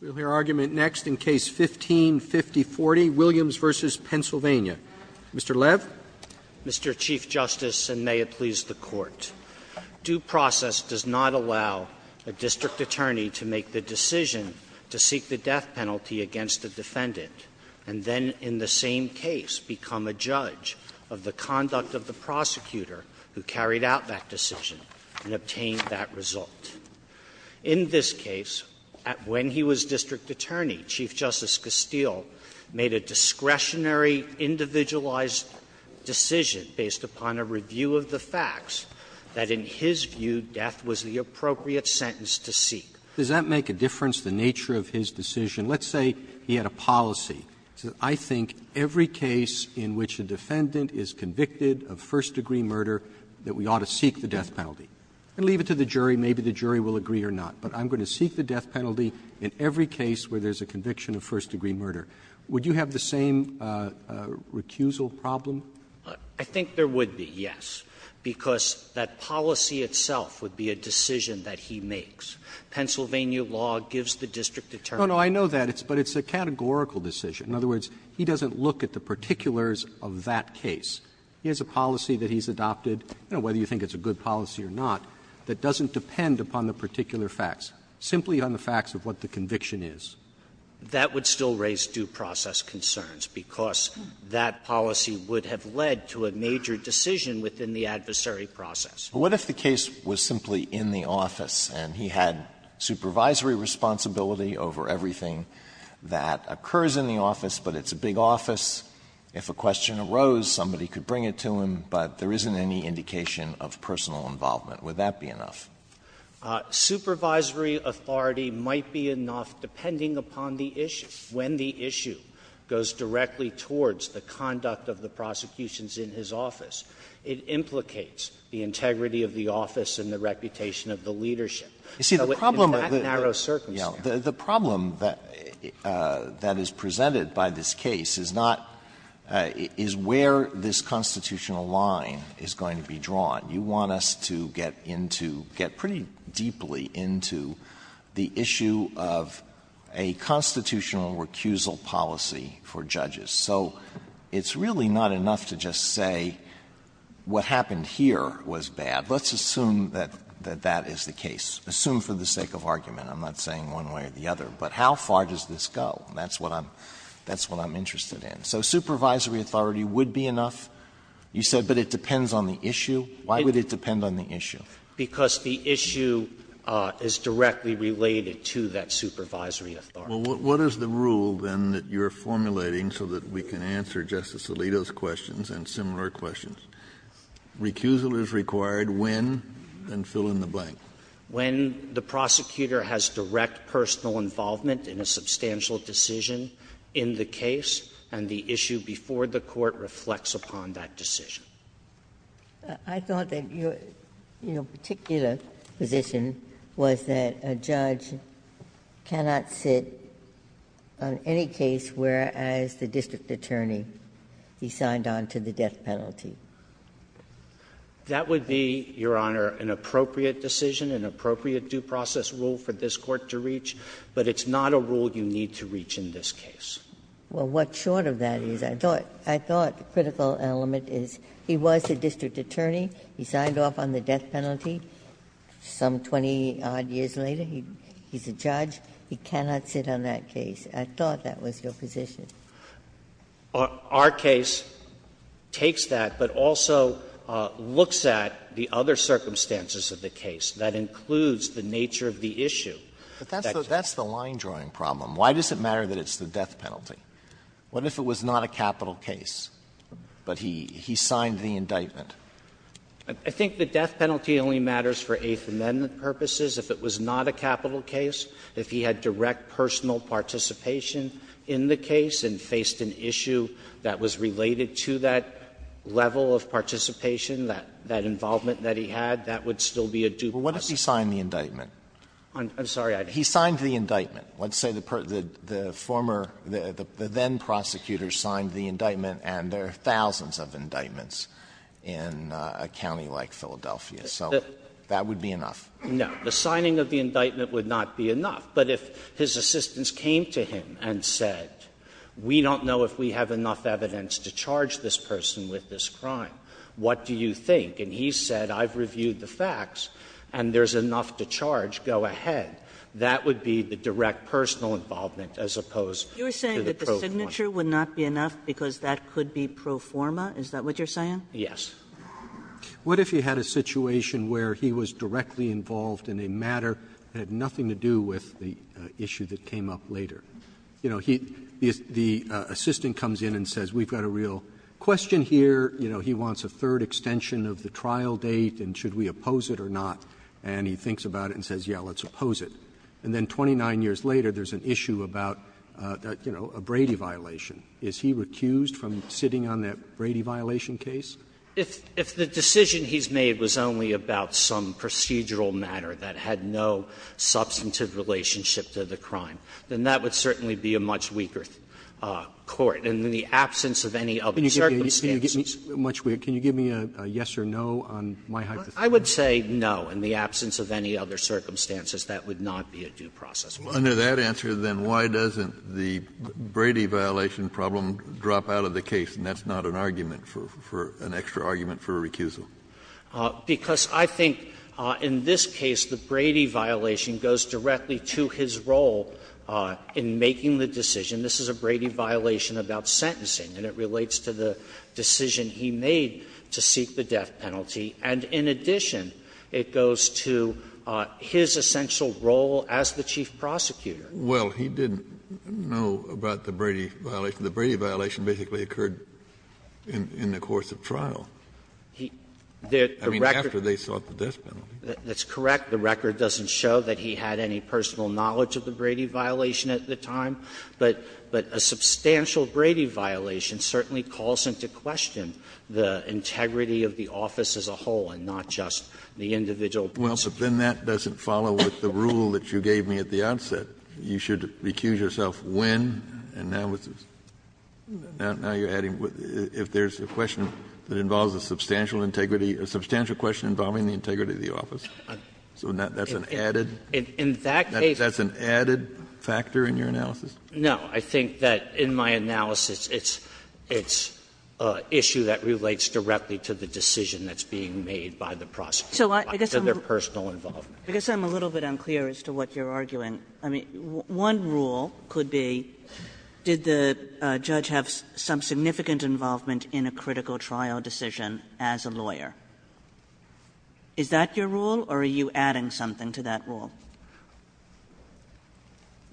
We'll hear argument next in Case No. 15-5040, Williams v. Pennsylvania. Mr. Lev. Mr. Chief Justice, and may it please the Court, due process does not allow a district attorney to make the decision to seek the death penalty against the defendant and then in the same case become a judge of the conduct of the prosecutor who carried out that decision and obtained that result. In this case, when he was district attorney, Chief Justice Castile made a discretionary individualized decision based upon a review of the facts that, in his view, death was the appropriate sentence to seek. Roberts, Does that make a difference, the nature of his decision? Let's say he had a policy. He said, I think every case in which a defendant is convicted of first degree murder, that we ought to seek the death penalty and leave it to the jury. Maybe the jury will agree or not, but I'm going to seek the death penalty in every case where there's a conviction of first degree murder. Would you have the same recusal problem? I think there would be, yes, because that policy itself would be a decision that he makes. Pennsylvania law gives the district attorney. No, no, I know that, but it's a categorical decision. In other words, he doesn't look at the particulars of that case. He has a policy that he's adopted, whether you think it's a good policy or not, that doesn't depend upon the particular facts, simply on the facts of what the conviction is. That would still raise due process concerns, because that policy would have led to a major decision within the adversary process. But what if the case was simply in the office, and he had supervisory responsibility over everything that occurs in the office, but it's a big office, if a question arose, somebody could bring it to him, but there isn't any indication of personal involvement, would that be enough? Supervisory authority might be enough, depending upon the issue. When the issue goes directly towards the conduct of the prosecutions in his office, it implicates the integrity of the office and the reputation of the leadership. So in that narrow circumstance the problem that is presented by this case is not where this constitutional line is going to be drawn. You want us to get into, get pretty deeply into the issue of a constitutional recusal policy for judges. So it's really not enough to just say what happened here was bad. Let's assume that that is the case. Assume for the sake of argument. I'm not saying one way or the other, but how far does this go? That's what I'm interested in. So supervisory authority would be enough, you said, but it depends on the issue. Why would it depend on the issue? Because the issue is directly related to that supervisory authority. Kennedy, what is the rule, then, that you're formulating so that we can answer Justice Alito's questions and similar questions? Recusal is required when, and fill in the blank. When the prosecutor has direct personal involvement in a substantial decision in the case and the issue before the court reflects upon that decision. I thought that your particular position was that a judge cannot sit on any case whereas the district attorney, he signed on to the death penalty. That would be, Your Honor, an appropriate decision, an appropriate due process rule for this Court to reach, but it's not a rule you need to reach in this case. Ginsburg Well, what short of that is, I thought, I thought the critical element is he was a district attorney, he signed off on the death penalty, some 20-odd years later he's a judge, he cannot sit on that case. I thought that was your position. Verrilli, Our case takes that, but also looks at the other circumstances of the case that includes the nature of the issue. Alito But that's the line-drawing problem. Why does it matter that it's the death penalty? What if it was not a capital case, but he signed the indictment? Verrilli, I think the death penalty only matters for Eighth Amendment purposes. If it was not a capital case, if he had direct personal participation in the case and faced an issue that was related to that level of participation, that involvement that he had, that would still be a due process. Alito But what if he signed the indictment? Verrilli, I'm sorry, I didn't. Alito He signed the indictment. Let's say the former, the then-prosecutor signed the indictment, and there are thousands of indictments in a county like Philadelphia, so that would be enough. Verrilli, No. The signing of the indictment would not be enough. But if his assistants came to him and said, we don't know if we have enough evidence to charge this person with this crime, what do you think? And he said, I've reviewed the facts and there's enough to charge, go ahead. That would be the direct personal involvement as opposed to the pro forma. Kagan You're saying that the signature would not be enough because that could be pro forma? Is that what you're saying? Verrilli, Yes. Roberts What if he had a situation where he was directly involved in a matter that had nothing to do with the issue that came up later? You know, he the assistant comes in and says, we've got a real question here. You know, he wants a third extension of the trial date, and should we oppose it or not? And he thinks about it and says, yes, let's oppose it. And then 29 years later, there's an issue about, you know, a Brady violation. Is he recused from sitting on that Brady violation case? Verrilli, If the decision he's made was only about some procedural matter that had no substantive relationship to the crime, then that would certainly be a much weaker court. And in the absence of any other circumstances. Roberts Can you give me a yes or no on my hypothesis? Verrilli, I would say no. In the absence of any other circumstances, that would not be a due process. Kennedy Well, under that answer, then, why doesn't the Brady violation problem drop out of the case? And that's not an argument for an extra argument for a recusal. Verrilli, Because I think in this case, the Brady violation goes directly to his role in making the decision. This is a Brady violation about sentencing, and it relates to the decision he made to seek the death penalty. And in addition, it goes to his essential role as the chief prosecutor. Kennedy Well, he didn't know about the Brady violation. The Brady violation basically occurred in the course of trial. Verrilli, I mean, after they sought the death penalty. Verrilli, That's correct. The record doesn't show that he had any personal knowledge of the Brady violation at the time. But a substantial Brady violation certainly calls into question the integrity of the office as a whole and not just the individual points of view. Kennedy Well, then that doesn't follow with the rule that you gave me at the outset. You should recuse yourself when, and now you're adding, if there's a question that involves a substantial integrity, a substantial question involving the integrity of the office, so that's an added factor in your analysis? Verrilli, No. I think that in my analysis, it's an issue that relates directly to the decision that's being made by the prosecutor, by their personal involvement. Kagan I guess I'm a little bit unclear as to what you're arguing. I mean, one rule could be, did the judge have some significant involvement in a critical trial decision as a lawyer? Is that your rule, or are you adding something to that rule?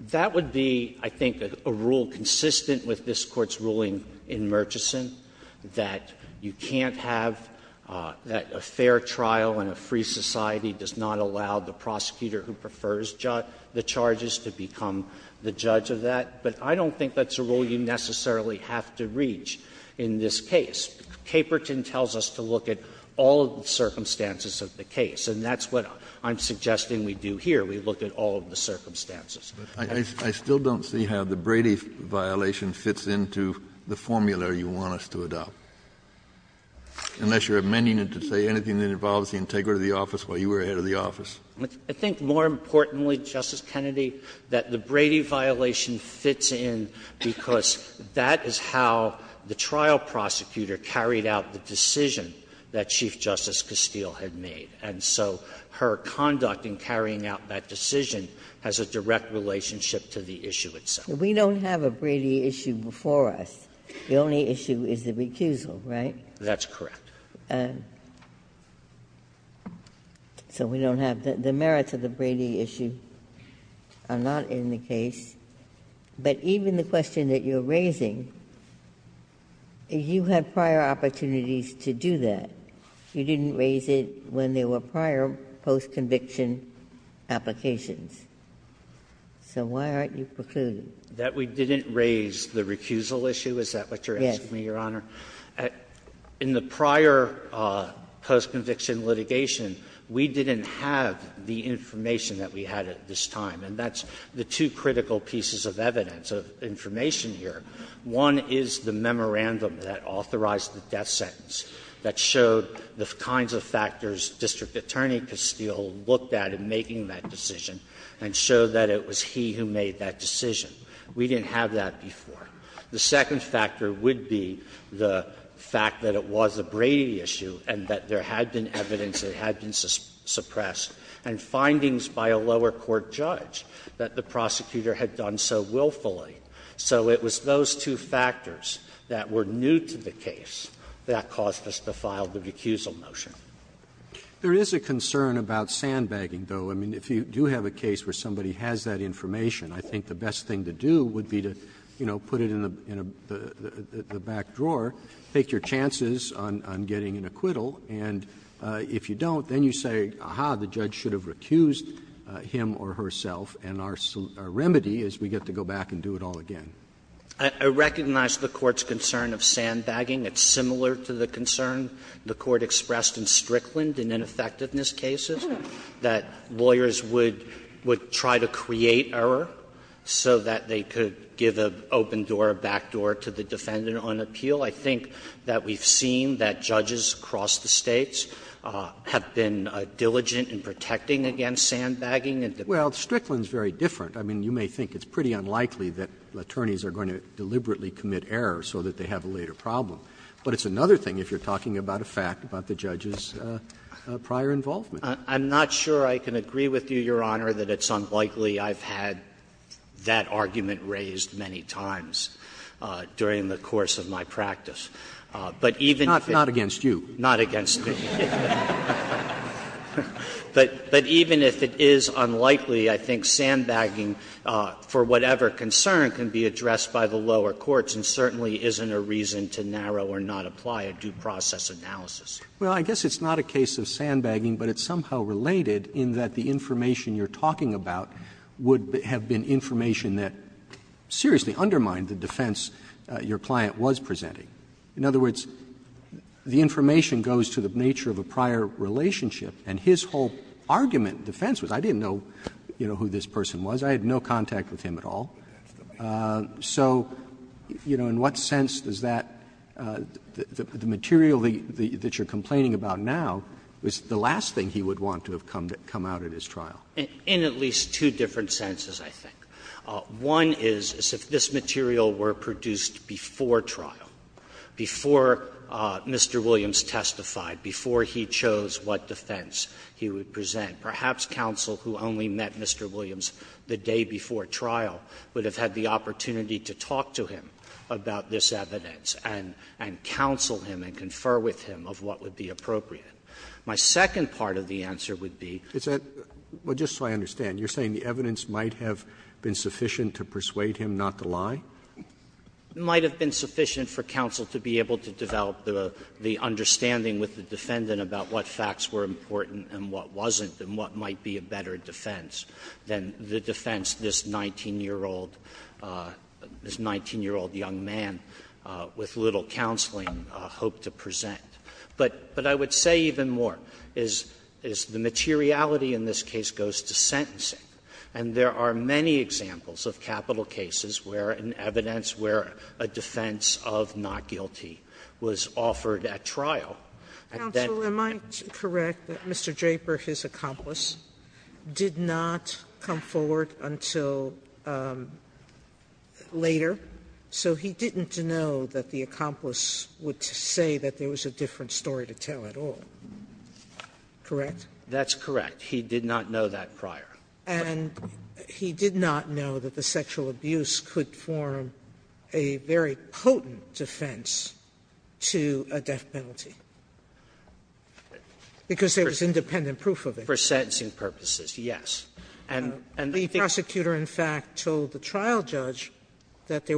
Verrilli, No. That would be, I think, a rule consistent with this Court's ruling in Murchison, that you can't have that a fair trial in a free society does not allow the prosecutor who prefers the charges to become the judge of that. But I don't think that's a rule you necessarily have to reach in this case. Caperton tells us to look at all of the circumstances of the case, and that's what I'm suggesting we do here. We look at all of the circumstances. Kennedy I still don't see how the Brady violation fits into the formula you want us to adopt, unless you're amending it to say anything that involves the integrity of the office while you were head of the office. Verrilli, I think more importantly, Justice Kennedy, that the Brady violation fits in because that is how the trial prosecutor carried out the decision that Chief Justice Castile had made. And so her conduct in carrying out that decision has a direct relationship to the issue itself. Ginsburg We don't have a Brady issue before us. The only issue is the recusal, right? Verrilli, That's correct. Ginsburg So we don't have the merits of the Brady issue are not in the case. But even the question that you're raising, you had prior opportunities to do that. You didn't raise it when there were prior post-conviction applications. So why aren't you precluding? Verrilli, That we didn't raise the recusal issue? Is that what you're asking me, Your Honor? Ginsburg Yes. Verrilli, In the prior post-conviction litigation, we didn't have the information that we had at this time, and that's the two critical pieces of evidence, of information here. One is the memorandum that authorized the death sentence that showed the kinds of factors District Attorney Castile looked at in making that decision and showed that it was he who made that decision. We didn't have that before. The second factor would be the fact that it was a Brady issue and that there had been evidence that had been suppressed and findings by a lower court judge that the prosecutor had done so willfully. So it was those two factors that were new to the case that caused us to file the recusal motion. Roberts There is a concern about sandbagging, though. I mean, if you do have a case where somebody has that information, I think the best thing to do would be to, you know, put it in the back drawer, take your chances on getting an acquittal, and if you don't, then you say, aha, the judge should have recused him or herself, and our remedy is we get to go back and do it all again. Sotomayor I recognize the Court's concern of sandbagging. It's similar to the concern the Court expressed in Strickland in ineffectiveness cases, that lawyers would try to create error so that they could give an open door, a back door to the defendant on appeal. I think that we've seen that judges across the States have been diligent in protecting against sandbagging. Roberts Well, Strickland is very different. I mean, you may think it's pretty unlikely that attorneys are going to deliberately commit error so that they have a later problem. But it's another thing if you're talking about a fact about the judge's prior involvement. Sotomayor I'm not sure I can agree with you, Your Honor, that it's unlikely I've had that argument raised many times during the course of my practice. But even if it's not against you. Roberts Not against me. But even if it is unlikely, I think sandbagging, for whatever concern, can be addressed by the lower courts and certainly isn't a reason to narrow or not apply a due process analysis. Roberts Well, I guess it's not a case of sandbagging, but it's somehow related in that the information you're talking about would have been information that seriously undermined the defense your client was presenting. In other words, the information goes to the nature of a prior relationship, and his whole argument defense was, I didn't know, you know, who this person was. I had no contact with him at all. So, you know, in what sense does that the material that you're complaining about now is the last thing he would want to have come out at his trial? Sotomayor In at least two different senses, I think. One is, as if this material were produced before trial. Before Mr. Williams testified, before he chose what defense he would present. Perhaps counsel who only met Mr. Williams the day before trial would have had the opportunity to talk to him about this evidence and counsel him and confer with him of what would be appropriate. My second part of the answer would be. Roberts Well, just so I understand, you're saying the evidence might have been sufficient to persuade him not to lie? Sotomayor Might have been sufficient for counsel to be able to develop the understanding with the defendant about what facts were important and what wasn't, and what might be a better defense than the defense this 19-year-old, this 19-year-old young man with little counseling hoped to present. But I would say even more is the materiality in this case goes to sentencing. And there are many examples of capital cases where an evidence, where a defense of not guilty was offered at trial. Sotomayor Counsel, am I correct that Mr. Draper, his accomplice, did not come forward until later, so he didn't know that the accomplice would say that there was a different story to tell at all, correct? Sotomayor That's correct. He did not know that prior. Sotomayor And he did not know that the sexual abuse could form a very potent defense to a death penalty, because there was independent proof of it. Sotomayor For sentencing purposes, yes. And I think the case is that there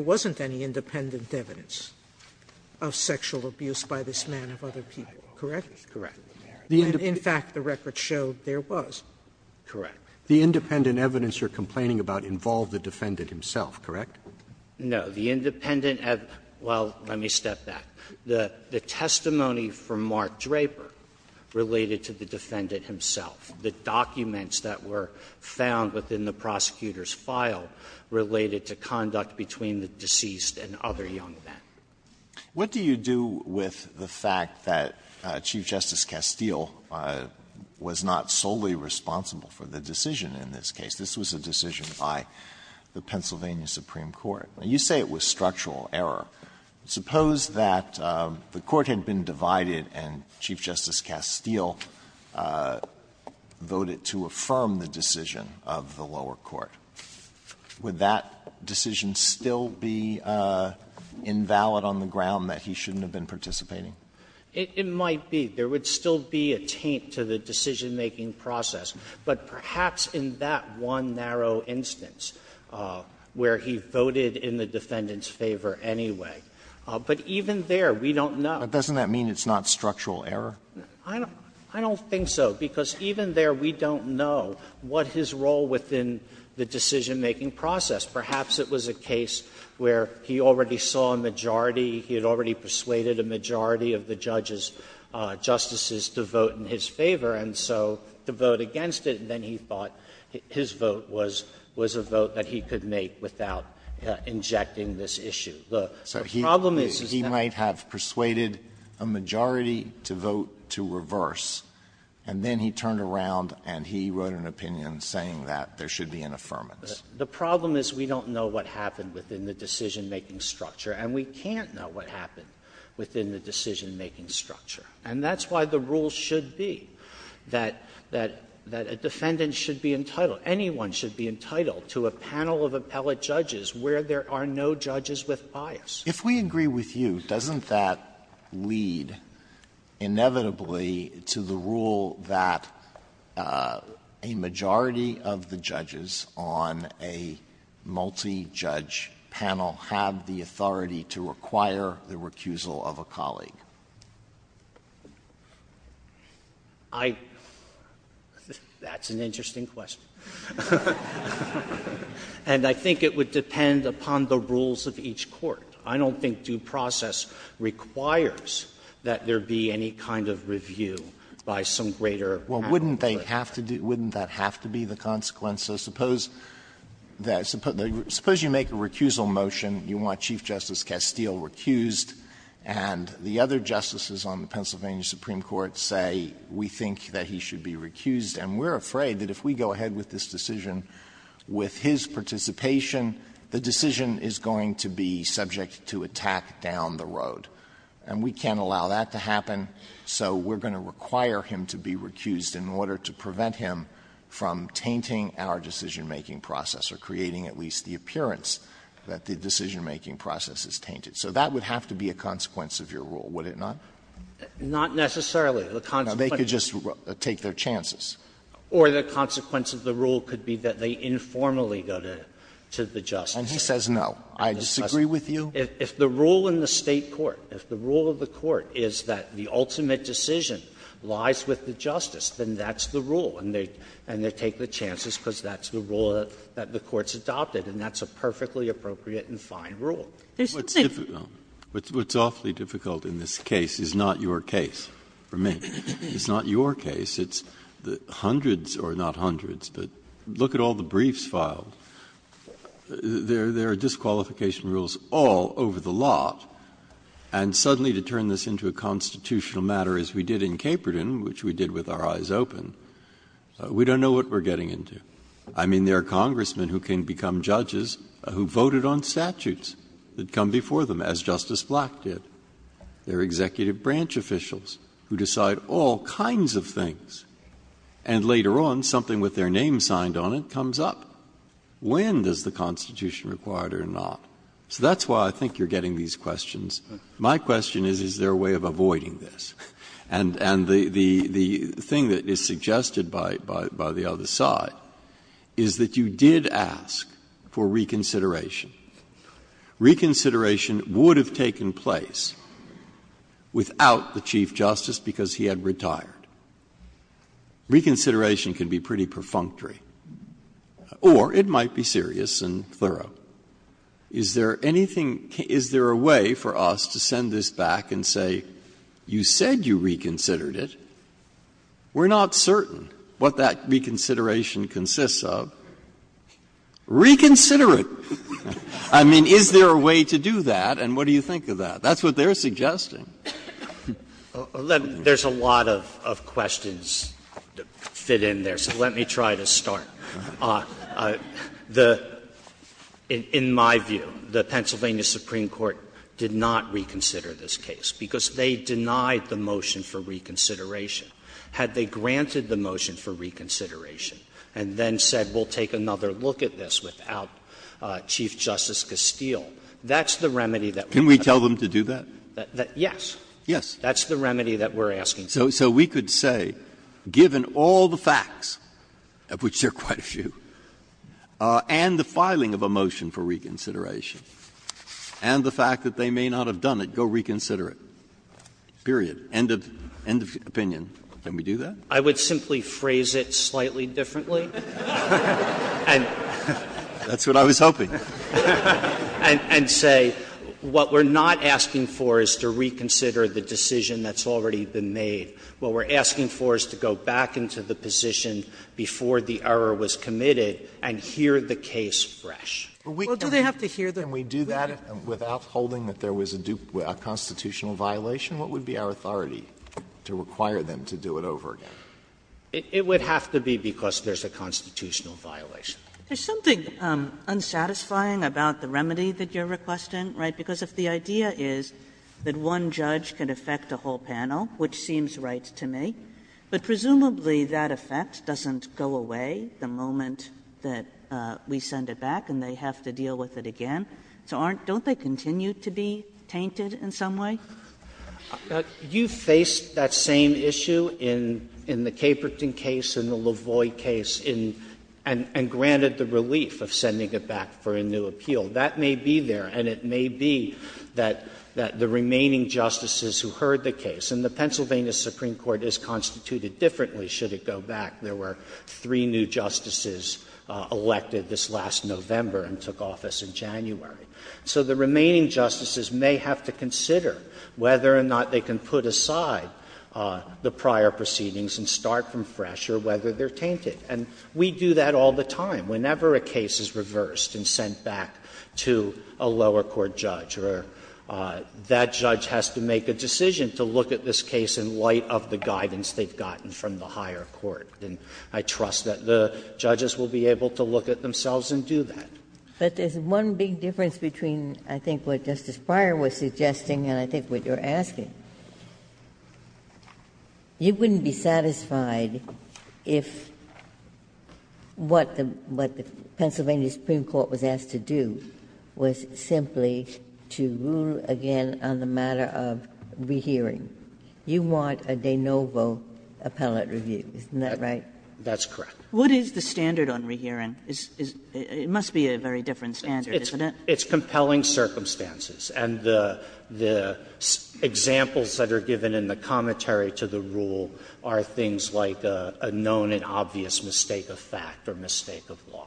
was no evidence of sexual abuse by this man of other people, correct? And in fact, the record showed there was. Sotomayor Correct. Roberts The independent evidence you're complaining about involved the defendant himself, correct? Sotomayor The independent evidence of the defendant, well, let me step back. The testimony from Mark Draper related to the defendant himself. The documents that were found within the prosecutor's file related to conduct between the deceased and other young men. Alito What do you do with the fact that Chief Justice Castile was not solely responsible for the decision in this case? This was a decision by the Pennsylvania Supreme Court. Now, you say it was structural error. Suppose that the Court had been divided and Chief Justice Castile voted to affirm the decision of the lower court. Would that decision still be invalid on the ground that he shouldn't have been participating? Sotomayor It might be. There would still be a taint to the decision-making process. But perhaps in that one narrow instance where he voted in the defendant's favor anyway. But even there, we don't know. Alito But doesn't that mean it's not structural error? Sotomayor I don't think so, because even there we don't know what his role within the decision-making process. Perhaps it was a case where he already saw a majority, he had already persuaded a majority of the judges, justices to vote in his favor. And so to vote against it, then he thought his vote was a vote that he could make without injecting this issue. The problem is that he's not going to be able to do that. Alito So he might have persuaded a majority to vote to reverse, and then he turned around and he wrote an opinion saying that there should be an affirmance. Sotomayor The problem is we don't know what happened within the decision-making structure, and we can't know what happened within the decision-making structure. And that's why the rule should be that a defendant should be entitled, anyone should be entitled to a panel of appellate judges where there are no judges with bias. Alito If we agree with you, doesn't that lead inevitably to the rule that a majority of the judges on a multi-judge panel have the authority to require the recusal of a colleague? I don't think due process requires that there be any kind of review by some greater appellate judge. Alito Well, wouldn't they have to do the consequence? Suppose you make a recusal motion, you want Chief Justice Castile recused, and the other justices on the Pennsylvania Supreme Court say we think that he should be recused, and we're afraid that if we go ahead with this decision with his participation, the decision is going to be subject to attack down the road. And we can't allow that to happen, so we're going to require him to be recused in order to prevent him from tainting our decision-making process or creating at least the appearance that the decision-making process is tainted. So that would have to be a consequence of your rule, would it not? Sotomayor Not necessarily. The consequence is that they informally go to the justice. Alito And he says no. I disagree with you. Sotomayor If the rule in the State court, if the rule of the court is that the ultimate decision lies with the justice, then that's the rule, and they take the chances because that's the rule that the court's adopted, and that's a perfectly appropriate and fine rule. There's something else. Breyer What's awfully difficult in this case is not your case, for me. It's not your case. It's hundreds, or not hundreds, but look at all the briefs filed. There are disqualification rules all over the lot, and suddenly to turn this into a constitutional matter as we did in Caperton, which we did with our eyes open, we don't know what we're getting into. I mean, there are Congressmen who can become judges who voted on statutes. That come before them, as Justice Black did. There are executive branch officials who decide all kinds of things, and later on, something with their name signed on it comes up. When does the Constitution require it or not? So that's why I think you're getting these questions. My question is, is there a way of avoiding this? And the thing that is suggested by the other side is that you did ask for reconsideration. Reconsideration would have taken place without the Chief Justice because he had retired. Reconsideration can be pretty perfunctory, or it might be serious and thorough. Is there anything — is there a way for us to send this back and say, you said you reconsidered it, we're not certain what that reconsideration consists of? Reconsider it! I mean, is there a way to do that, and what do you think of that? That's what they're suggesting. There's a lot of questions that fit in there, so let me try to start. In my view, the Pennsylvania Supreme Court did not reconsider this case because they denied the motion for reconsideration. Had they granted the motion for reconsideration and then said, we'll take another look at this without Chief Justice Castile, that's the remedy that we have. Can we tell them to do that? Yes. Yes. That's the remedy that we're asking for. So we could say, given all the facts, of which there are quite a few, and the filing of a motion for reconsideration, and the fact that they may not have done it, go reconsider it, period, end of opinion. Can we do that? I would simply phrase it slightly differently. And say, what we're not asking for is to reconsider the decision that's already been made. What we're asking for is to go back into the position before the error was committed and hear the case fresh. Well, do they have to hear the case? Can we do that without holding that there was a constitutional violation? What would be our authority to require them to do it over again? It would have to be because there's a constitutional violation. Kagan. There's something unsatisfying about the remedy that you're requesting, right? Because if the idea is that one judge can affect a whole panel, which seems right to me, but presumably that effect doesn't go away the moment that we send it back and they have to deal with it again, so don't they continue to be tainted in some way? You faced that same issue in the Caperton case, in the Lavoie case, and granted the relief of sending it back for a new appeal. That may be there, and it may be that the remaining justices who heard the case, and the Pennsylvania Supreme Court is constituted differently should it go back. There were three new justices elected this last November and took office in January. So the remaining justices may have to consider whether or not they can put aside the prior proceedings and start from fresh or whether they're tainted. And we do that all the time. Whenever a case is reversed and sent back to a lower court judge or that judge has to make a decision to look at this case in light of the guidance they've gotten from the higher court, then I trust that the judges will be able to look at themselves and do that. Ginsburg. But there's one big difference between, I think, what Justice Breyer was suggesting and I think what you're asking. You wouldn't be satisfied if what the Pennsylvania Supreme Court was asked to do was simply to rule again on the matter of rehearing. You want a de novo appellate review, isn't that right? That's correct. What is the standard on rehearing? It must be a very different standard, isn't it? It's compelling circumstances. And the examples that are given in the commentary to the rule are things like a known and obvious mistake of fact or mistake of law.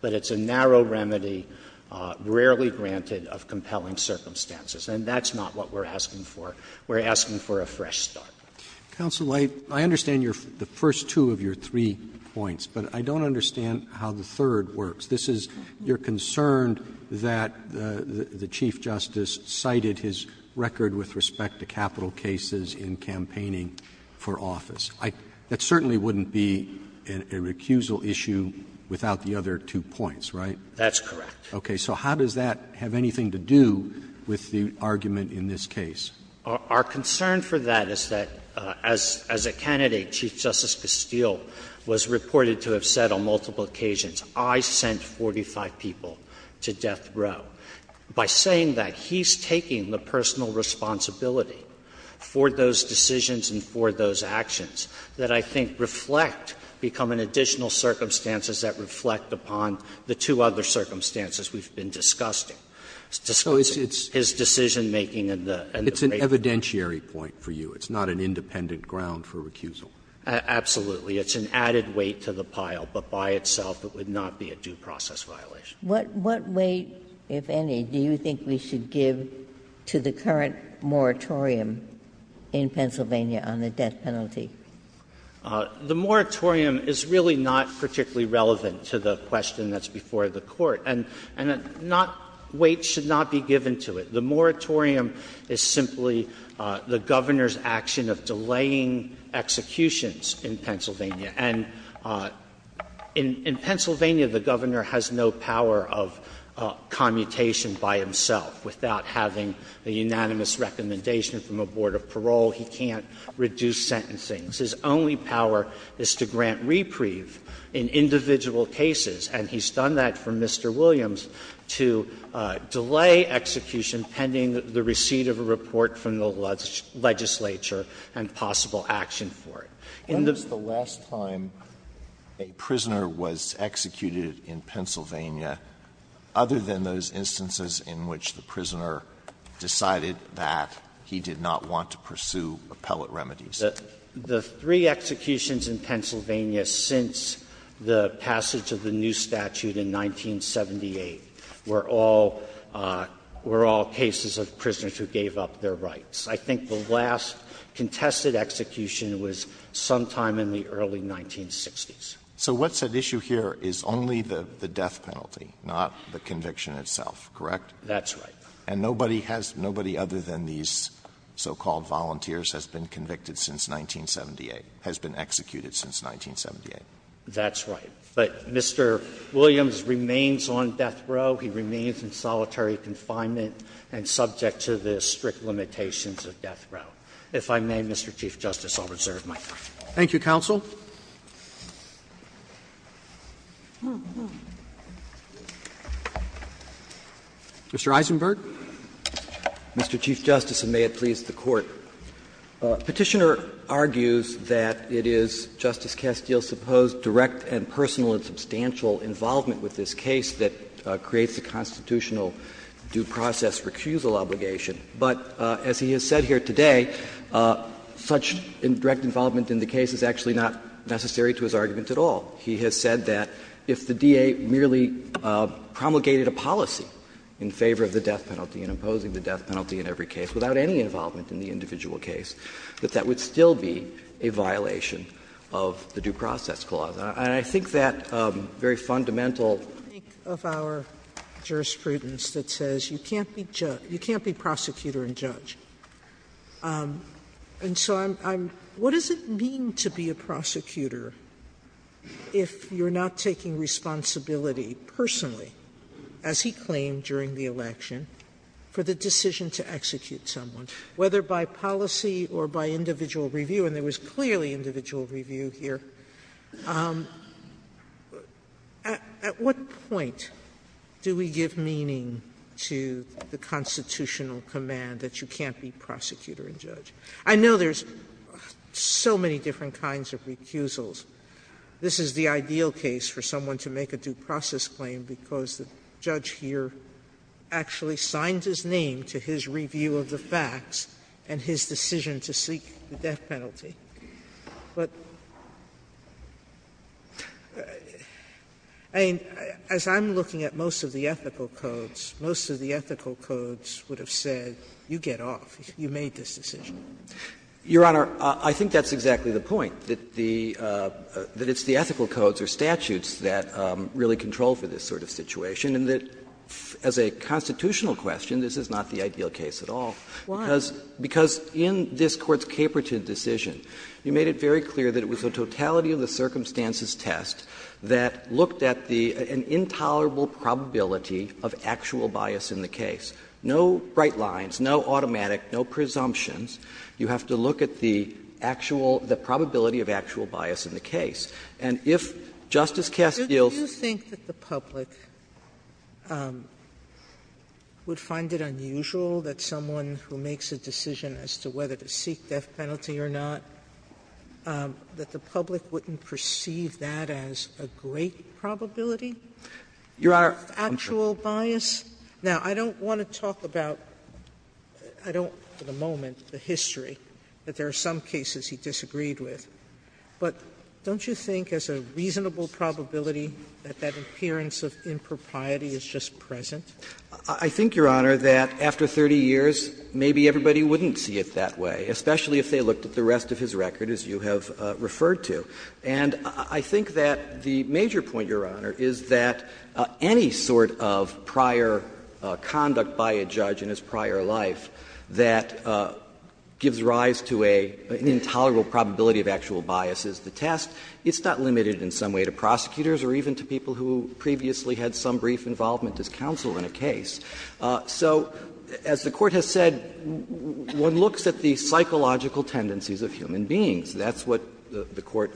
But it's a narrow remedy, rarely granted, of compelling circumstances. And that's not what we're asking for. We're asking for a fresh start. Roberts Counsel, I understand the first two of your three points, but I don't understand how the third works. This is, you're concerned that the Chief Justice cited his record with respect to capital cases in campaigning for office. That certainly wouldn't be a recusal issue without the other two points, right? That's correct. Okay. So how does that have anything to do with the argument in this case? Our concern for that is that, as a candidate, Chief Justice Castile was reported to have said on multiple occasions, I sent 45 people to death row. By saying that, he's taking the personal responsibility for those decisions and for those actions that I think reflect, become an additional circumstances that reflect upon the two other circumstances we've been discussing. So it's his decision-making and the break-up. It's an evidentiary point for you. It's not an independent ground for recusal. Absolutely. It's an added weight to the pile, but by itself it would not be a due process violation. What weight, if any, do you think we should give to the current moratorium in Pennsylvania on the death penalty? The moratorium is really not particularly relevant to the question that's before the Court. And not — weight should not be given to it. The moratorium is simply the Governor's action of delaying executions in Pennsylvania. And in Pennsylvania, the Governor has no power of commutation by himself. Without having a unanimous recommendation from a board of parole, he can't reduce sentencing. His only power is to grant reprieve in individual cases, and he's done that for Mr. Williams, to delay execution pending the receipt of a report from the legislature and possible action for it. In the — Alitos, the last time a prisoner was executed in Pennsylvania, other than those instances in which the prisoner decided that he did not want to pursue appellate remedies? The three executions in Pennsylvania since the passage of the new statute in 1978 were all — were all cases of prisoners who gave up their rights. I think the last contested execution was sometime in the early 1960s. So what's at issue here is only the death penalty, not the conviction itself, correct? That's right. And nobody has — nobody other than these so-called volunteers has been convicted since 1978, has been executed since 1978. That's right. But Mr. Williams remains on death row. He remains in solitary confinement and subject to the strict limitations of death row. If I may, Mr. Chief Justice, I'll reserve my time. Roberts. Thank you, counsel. Mr. Eisenberg. Mr. Chief Justice, and may it please the Court. Petitioner argues that it is Justice Castile's supposed direct and personal and substantial involvement with this case that creates the constitutional due process recusal obligation. But as he has said here today, such direct involvement in the case is actually not necessary to his argument at all. He has said that if the DA merely promulgated a policy in favor of the death penalty and opposing the death penalty in every case without any involvement in the individual case, that that would still be a violation of the Due Process Clause. And I think that very fundamental I think of our jurisprudence that says you can't be prosecutor and judge. And so I'm what does it mean to be a prosecutor if you're not taking responsibility personally, as he claimed during the election, for the decision to execute someone, whether by policy or by individual review? And there was clearly individual review here. At what point do we give meaning to the constitutional command that you can't be prosecutor and judge? I know there's so many different kinds of recusals. This is the ideal case for someone to make a due process claim because the judge here actually signed his name to his review of the facts and his decision to seek the death penalty. But, I mean, as I'm looking at most of the ethical codes, most of the ethical codes would have said, you get off, you made this decision. Your Honor, I think that's exactly the point, that the ethical codes or statutes that really control for this sort of situation and that as a constitutional question, this is not the ideal case at all. Because in this Court's Caperton decision, you made it very clear that it was a totality of the circumstances test that looked at the intolerable probability of actual bias in the case. No bright lines, no automatic, no presumptions. You have to look at the actual – the probability of actual bias in the case. And if Justice Kessler deals with this case, I think that the public would find it unusual that someone who makes a decision as to whether to seek death penalty or not, that the public wouldn't perceive that as a great probability of actual bias? Now, I don't want to talk about, I don't at the moment, the history, that there are some cases he disagreed with. But don't you think as a reasonable probability that that appearance of impropriety is just present? I think, Your Honor, that after 30 years, maybe everybody wouldn't see it that way, especially if they looked at the rest of his record, as you have referred to. And I think that the major point, Your Honor, is that any sort of prior conduct by a judge in his prior life that gives rise to an intolerable probability of actual bias is the test. It's not limited in some way to prosecutors or even to people who previously had some brief involvement as counsel in a case. So as the Court has said, one looks at the psychological tendencies of human beings. That's what the Court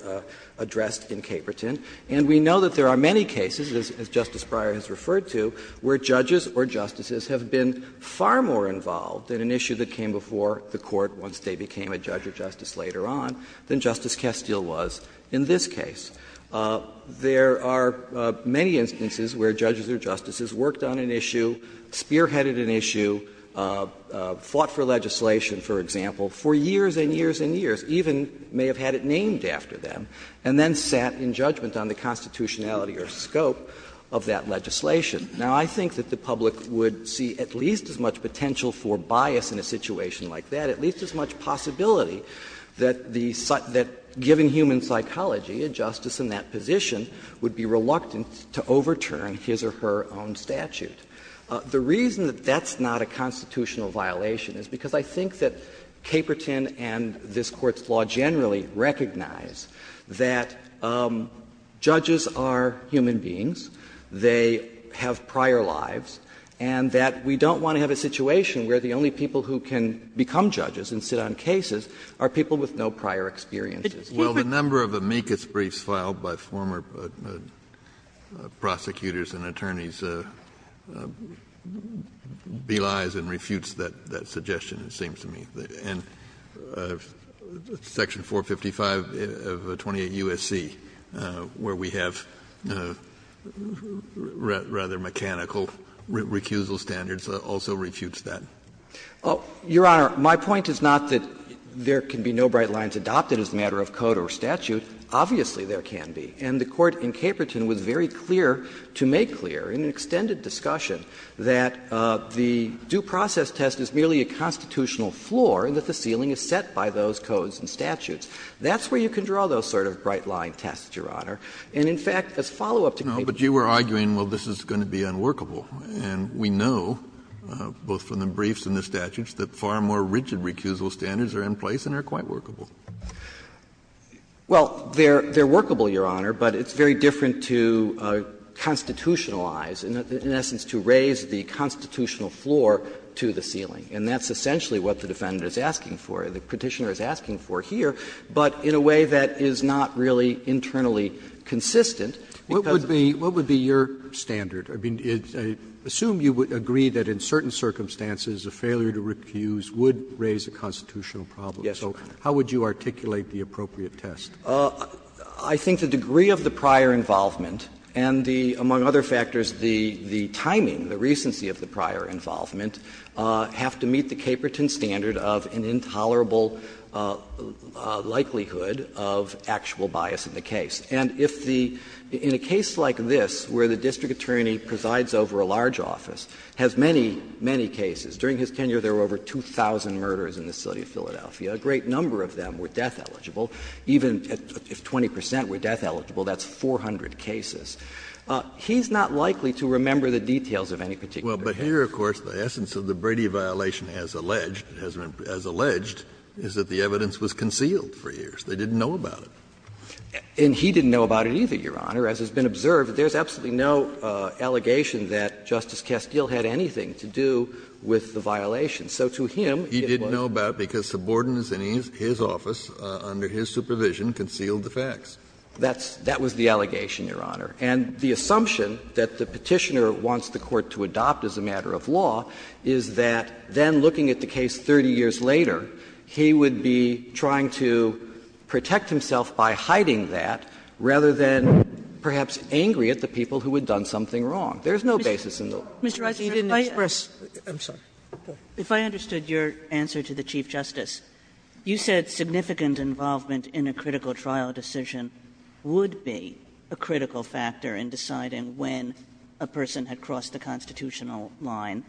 addressed in Caperton. And we know that there are many cases, as Justice Breyer has referred to, where judges or justices have been far more involved in an issue that came before the Court once they became a judge or justice later on than Justice Kestel was in this case. There are many instances where judges or justices worked on an issue, spearheaded an issue, fought for legislation, for example, for years and years and years, even if they may have had it named after them, and then sat in judgment on the constitutionality or scope of that legislation. Now, I think that the public would see at least as much potential for bias in a situation like that, at least as much possibility that the — that, given human psychology, a justice in that position would be reluctant to overturn his or her own statute. The reason that that's not a constitutional violation is because I think that Caperton and this Court's law generally recognize that judges are human beings, they have prior lives, and that we don't want to have a situation where the only people who can become judges and sit on cases are people with no prior experiences. Kennedy, the number of amicus briefs filed by former prosecutors and attorneys belies and refutes that suggestion, it seems to me. And section 455 of 28 U.S.C., where we have rather mechanical recusal standards, also refutes that. Your Honor, my point is not that there can be no bright lines adopted as a matter of code or statute. Obviously, there can be. And the Court in Caperton was very clear, to make clear in an extended discussion, that the due process test is merely a constitutional floor and that the ceiling is set by those codes and statutes. That's where you can draw those sort of bright-line tests, Your Honor. And in fact, as follow-up to Caperton's case. Kennedy, but you were arguing, well, this is going to be unworkable. And we know, both from the briefs and the statutes, that far more rigid recusal standards are in place and are quite workable. Well, they're workable, Your Honor, but it's very different to constitutionalize, in essence, to raise the constitutional floor to the ceiling. And that's essentially what the Defendant is asking for, the Petitioner is asking for here, but in a way that is not really internally consistent. Roberts, what would be your standard? I mean, I assume you would agree that in certain circumstances a failure to recuse would raise a constitutional problem. So how would you articulate the appropriate test? I think the degree of the prior involvement and the, among other factors, the timing, the recency of the prior involvement, have to meet the Caperton standard of an intolerable likelihood of actual bias in the case. And if the — in a case like this, where the district attorney presides over a large office, has many, many cases. During his tenure, there were over 2,000 murders in the city of Philadelphia. A great number of them were death-eligible. Even if 20 percent were death-eligible, that's 400 cases. He's not likely to remember the details of any particular case. Well, but here, of course, the essence of the Brady violation, as alleged, is that the evidence was concealed for years. They didn't know about it. And he didn't know about it either, Your Honor. As has been observed, there's absolutely no allegation that Justice Castile had anything to do with the violation. So to him, it was. He didn't know about it because subordinates in his office, under his supervision, concealed the facts. That's — that was the allegation, Your Honor. And the assumption that the Petitioner wants the Court to adopt as a matter of law is that then looking at the case 30 years later, he would be trying to protect himself by hiding that, rather than perhaps angry at the people who had done something wrong. There's no basis in the law. Kagan Mr. Eiser, if I could express my — I'm sorry. If I understood your answer to the Chief Justice, you said significant involvement in a critical trial decision would be a critical factor in deciding when a person had crossed the constitutional line.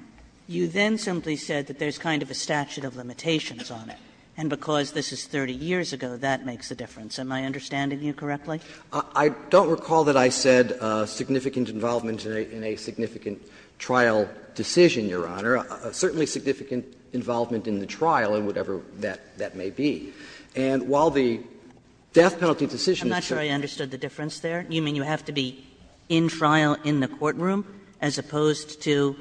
You then simply said that there's kind of a statute of limitations on it, and because this is 30 years ago, that makes a difference. Am I understanding you correctly? Eiser I don't recall that I said significant involvement in a significant trial decision, Your Honor. Certainly significant involvement in the trial, in whatever that may be. And while the death penalty decision is true… Kagan I'm not sure I understood the difference there. You mean you have to be in trial in the courtroom as opposed to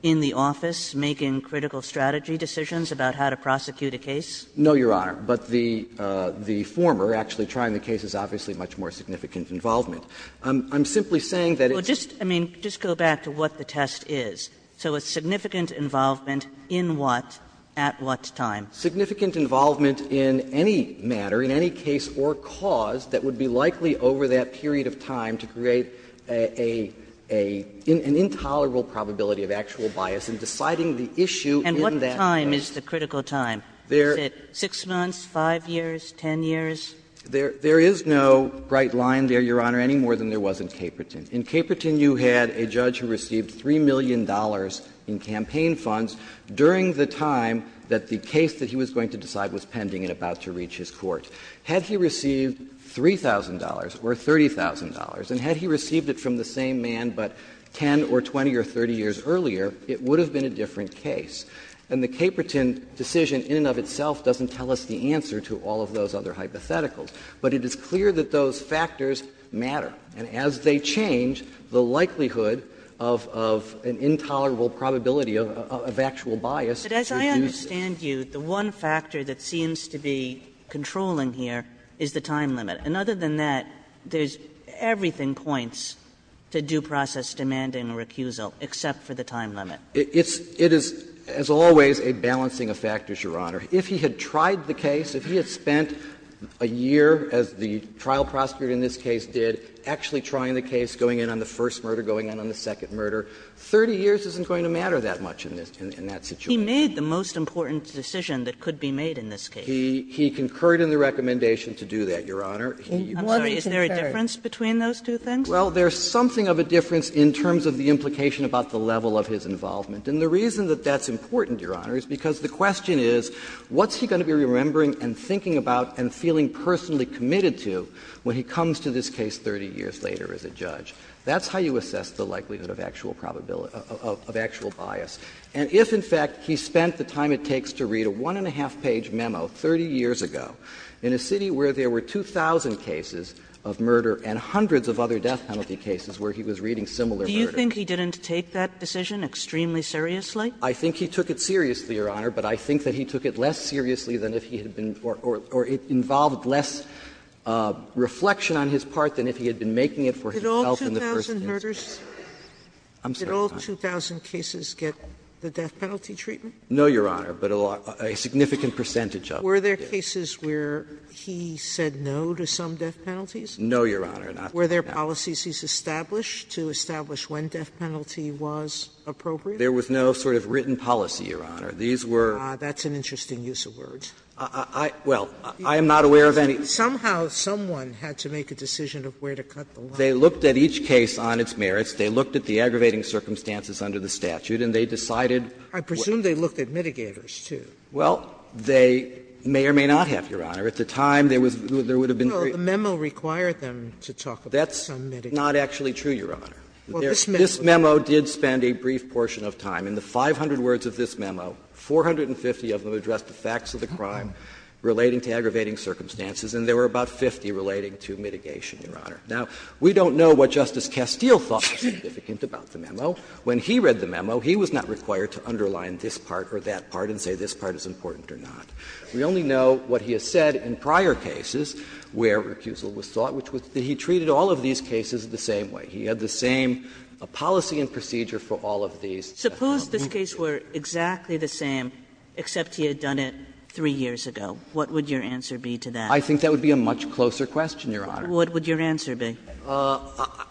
in the office, making critical strategy decisions about how to prosecute a case? Eiser No, Your Honor. But the former actually trying the case is obviously much more significant involvement. I'm simply saying that it's… Kagan Well, just — I mean, just go back to what the test is. So it's significant involvement in what, at what time? Eiser Significant involvement in any matter, in any case or cause that would be likely over that period of time to create a — an intolerable probability of actual bias in deciding the issue in that case. Kagan And what time is the critical time? Is it 6 months, 5 years, 10 years? Eiser There is no bright line there, Your Honor, any more than there was in Caperton. In Caperton, you had a judge who received $3 million in campaign funds during the time that the case that he was going to decide was pending and about to reach his court. Had he received $3,000 or $30,000, and had he received it from the same man but 10 or 20 or 30 years earlier, it would have been a different case. And the Caperton decision in and of itself doesn't tell us the answer to all of those other hypotheticals. But it is clear that those factors matter. And as they change, the likelihood of an intolerable probability of actual bias is reduced. Kagan But as I understand you, the one factor that seems to be controlling here is the time limit. And other than that, there's — everything points to due process demanding a recusal except for the time limit. Eiser It is, as always, a balancing of factors, Your Honor. If he had tried the case, if he had spent a year, as the trial prosecutor in this case did, actually trying the case, going in on the first murder, going in on the second murder, 30 years isn't going to matter that much in this — in that situation. Kagan He made the most important decision that could be made in this case. Eiser He concurred in the recommendation to do that, Your Honor. Kagan I'm sorry, is there a difference between those two things? Eiser Well, there's something of a difference in terms of the implication about the level of his involvement. And the reason that that's important, Your Honor, is because the question is, what's he going to be remembering and thinking about and feeling personally committed to when he comes to this case 30 years later as a judge? That's how you assess the likelihood of actual probability — of actual bias. And if, in fact, he spent the time it takes to read a one-and-a-half-page memo 30 years ago in a city where there were 2,000 cases of murder and hundreds of other death penalty cases where he was reading similar murder cases. Kagan Do you think he didn't take that decision extremely seriously? Eiser I think he took it seriously, Your Honor, but I think that he took it less seriously than if he had been — or it involved less reflection on his part than if he had been making it for himself in the first instance. Sotomayor Did all 2,000 murders — did all 2,000 cases get the death penalty treatment? Eiser No, Your Honor, but a significant percentage of them did. Sotomayor Were there cases where he said no to some death penalties? Eiser No, Your Honor, not to death. Sotomayor Were there policies he's established to establish when death penalty was appropriate? Eiser There was no sort of written policy, Your Honor. These were — Sotomayor That's an interesting use of words. Eiser I — well, I am not aware of any. Sotomayor Somehow someone had to make a decision of where to cut the line. Eiser They looked at each case on its merits. They looked at the aggravating circumstances under the statute, and they decided what— Sotomayor I presume they looked at mitigators, too. Eiser Well, they may or may not have, Your Honor. At the time, there was — there would have been three— Sotomayor Well, the memo required them to talk about some mitigators. Eiser That's not actually true, Your Honor. Sotomayor Well, this memo— Eiser This memo did spend a brief portion of time. In the 500 words of this memo, 450 of them addressed the facts of the crime relating to aggravating circumstances, and there were about 50 relating to mitigation, Your Honor. Now, we don't know what Justice Castile thought was significant about the memo. When he read the memo, he was not required to underline this part or that part and say this part is important or not. We only know what he has said in prior cases where recusal was sought, which was that he treated all of these cases the same way. He had the same policy and procedure for all of these. Sotomayor Suppose this case were exactly the same, except he had done it three years ago. What would your answer be to that? Eiser I think that would be a much closer question, Your Honor. Sotomayor What would your answer be? Eiser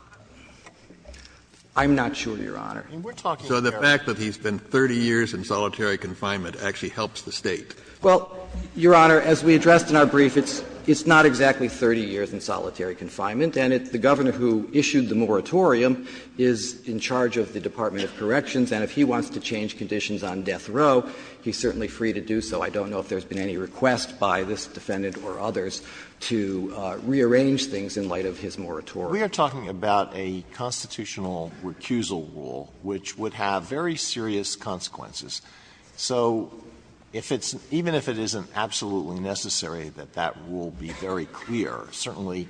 I'm not sure, Your Honor. Roberts So the fact that he's been 30 years in solitary confinement actually helps the State. Eiser Well, Your Honor, as we addressed in our brief, it's not exactly 30 years in solitary confinement, and the governor who issued the moratorium is in charge of the Department of Corrections, and if he wants to change conditions on death row, he's certainly free to do so. I don't know if there's been any request by this defendant or others to rearrange things in light of his moratorium. Alito We are talking about a constitutional recusal rule which would have very serious consequences. So if it's – even if it isn't absolutely necessary that that rule be very clear, certainly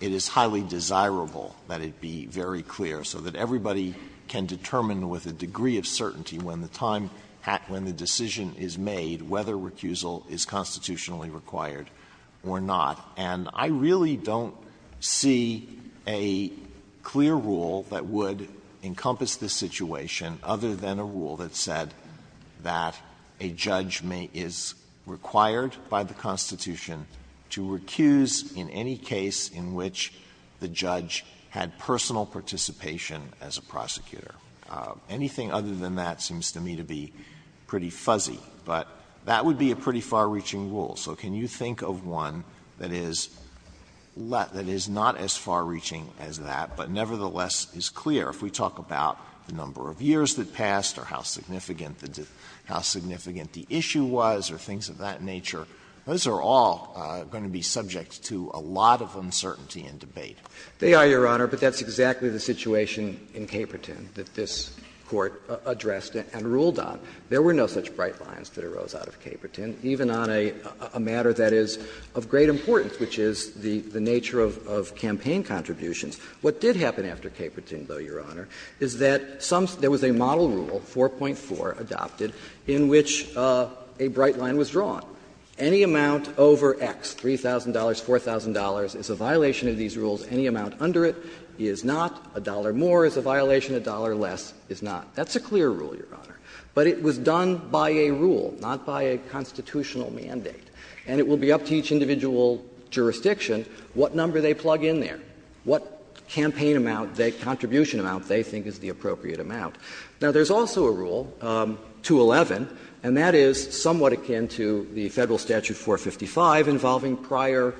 it is highly desirable that it be very clear, so that everybody can determine with a degree of certainty when the time – when the decision is made whether recusal is constitutionally required or not. And I really don't see a clear rule that would encompass this situation other than a rule that said that a judge may – is required by the Constitution to recuse in any case in which the judge had personal participation as a prosecutor. Anything other than that seems to me to be pretty fuzzy, but that would be a pretty far-reaching rule. So can you think of one that is – that is not as far-reaching as that, but nevertheless is clear? If we talk about the number of years that passed or how significant the – how significant the issue was or things of that nature, those are all going to be subject to a lot of uncertainty and debate. They are, Your Honor, but that's exactly the situation in Caperton that this Court addressed and ruled on. There were no such bright lines that arose out of Caperton, even on a matter that is of great importance, which is the nature of campaign contributions. What did happen after Caperton, though, Your Honor, is that some – there was a model rule, 4.4, adopted in which a bright line was drawn. Any amount over X, $3,000, $4,000, is a violation of these rules. Any amount under it is not. A dollar more is a violation. A dollar less is not. That's a clear rule, Your Honor. But it was done by a rule, not by a constitutional mandate. And it will be up to each individual jurisdiction what number they plug in there, what campaign amount, that contribution amount they think is the appropriate amount. Now, there's also a rule, 2.11, and that is somewhat akin to the Federal Statute 455 involving prior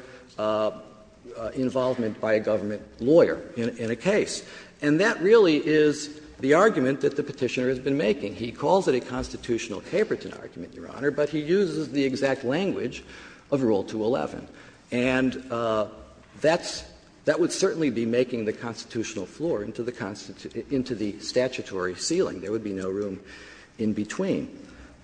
involvement by a government lawyer in a case. And that really is the argument that the Petitioner has been making. He calls it a constitutional Caperton argument, Your Honor, but he uses the exact language of Rule 2.11. And that's – that would certainly be making the constitutional floor into the statutory ceiling. There would be no room in between.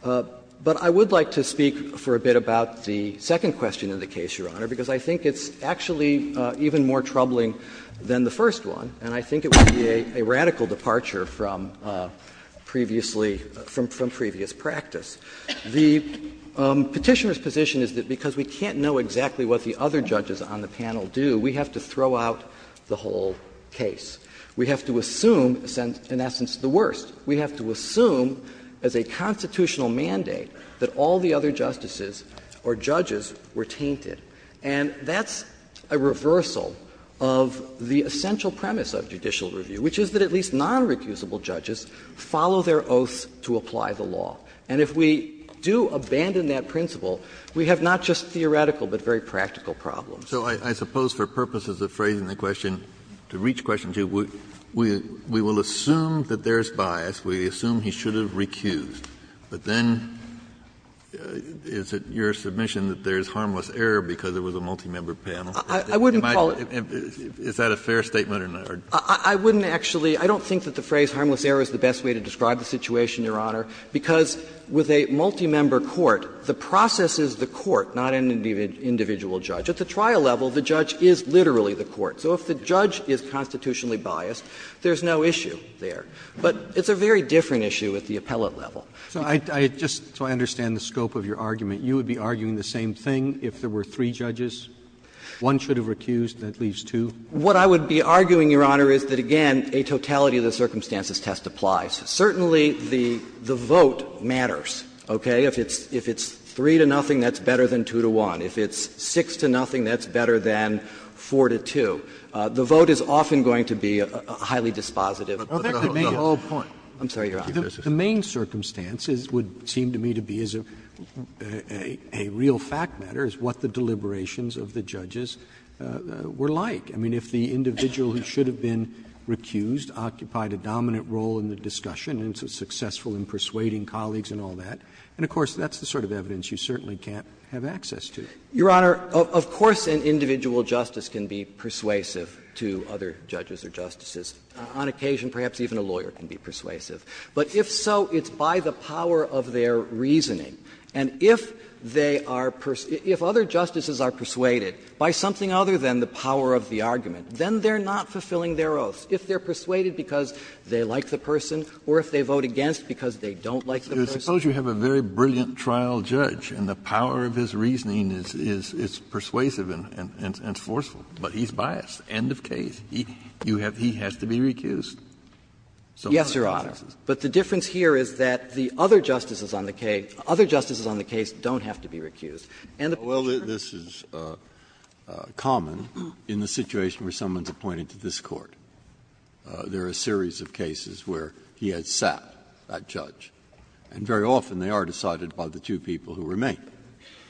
But I would like to speak for a bit about the second question in the case, Your Honor, because I think it's actually even more troubling than the first one, and I think it would be a radical departure from previously – from previous practice. The Petitioner's position is that because we can't know exactly what the other judges on the panel do, we have to throw out the whole case. We have to assume, in essence, the worst. We have to assume as a constitutional mandate that all the other justices or judges were tainted. And that's a reversal of the essential premise of judicial review, which is that at least non-recusable judges follow their oaths to apply the law. And if we do abandon that principle, we have not just theoretical but very practical problems. Kennedy, so I suppose for purposes of phrasing the question, to reach question 2, we will assume that there is bias, we assume he should have recused, but then is it your submission that there is harmless error because there was a multi-member panel? I wouldn't call it. Is that a fair statement or not? I wouldn't actually – I don't think that the phrase harmless error is the best way to describe the situation, Your Honor, because with a multi-member court, the process is the court, not an individual judge. At the trial level, the judge is literally the court. So if the judge is constitutionally biased, there is no issue there. But it's a very different issue at the appellate level. Roberts So I just – so I understand the scope of your argument. You would be arguing the same thing if there were three judges? One should have recused, that leaves two? What I would be arguing, Your Honor, is that, again, a totality of the circumstances test applies. Certainly, the vote matters, okay? If it's 3 to nothing, that's better than 2 to 1. If it's 6 to nothing, that's better than 4 to 2. The vote is often going to be highly dispositive. Roberts Well, that could be the whole point. I'm sorry, Your Honor. Roberts The main circumstances would seem to me to be, as a real fact matter, is what the deliberations of the judges were like. I mean, if the individual who should have been recused occupied a dominant role in the discussion and was successful in persuading colleagues and all that, and of course that's the sort of evidence you certainly can't have access to. Kneedler Your Honor, of course an individual justice can be persuasive to other judges or justices. On occasion, perhaps even a lawyer can be persuasive. But if so, it's by the power of their reasoning. And if they are – if other justices are persuaded by something other than the power of the argument, then they are not fulfilling their oaths. If they are persuaded because they like the person or if they vote against because they don't like the person. Kennedy Suppose you have a very brilliant trial judge and the power of his reasoning is persuasive and forceful, but he's biased, end of case. You have – he has to be recused. Kneedler Yes, Your Honor. But the difference here is that the other justices on the case don't have to be recused. And the pressure on the other justices on the case is that they have to be recused. Breyer Well, this is common in the situation where someone is appointed to this Court. There are a series of cases where he has sat, that judge, and very often they are decided by the two people who remain.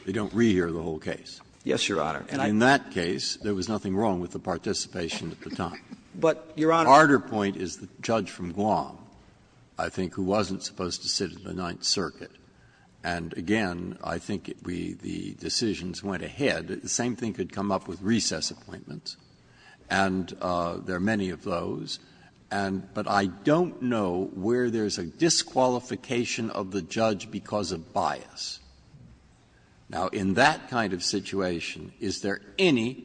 They don't re-hear the whole case. Kneedler And I think that's true. Breyer In that case, there was nothing wrong with the participation at the time. Kneedler But, Your Honor, I think that's true. Breyer A harder point is the judge from Guam, I think, who wasn't supposed to sit in the Ninth Circuit. And again, I think we – the decisions went ahead. The same thing could come up with recess appointments. And there are many of those. And – but I don't know where there's a disqualification of the judge because of bias. Now, in that kind of situation, is there any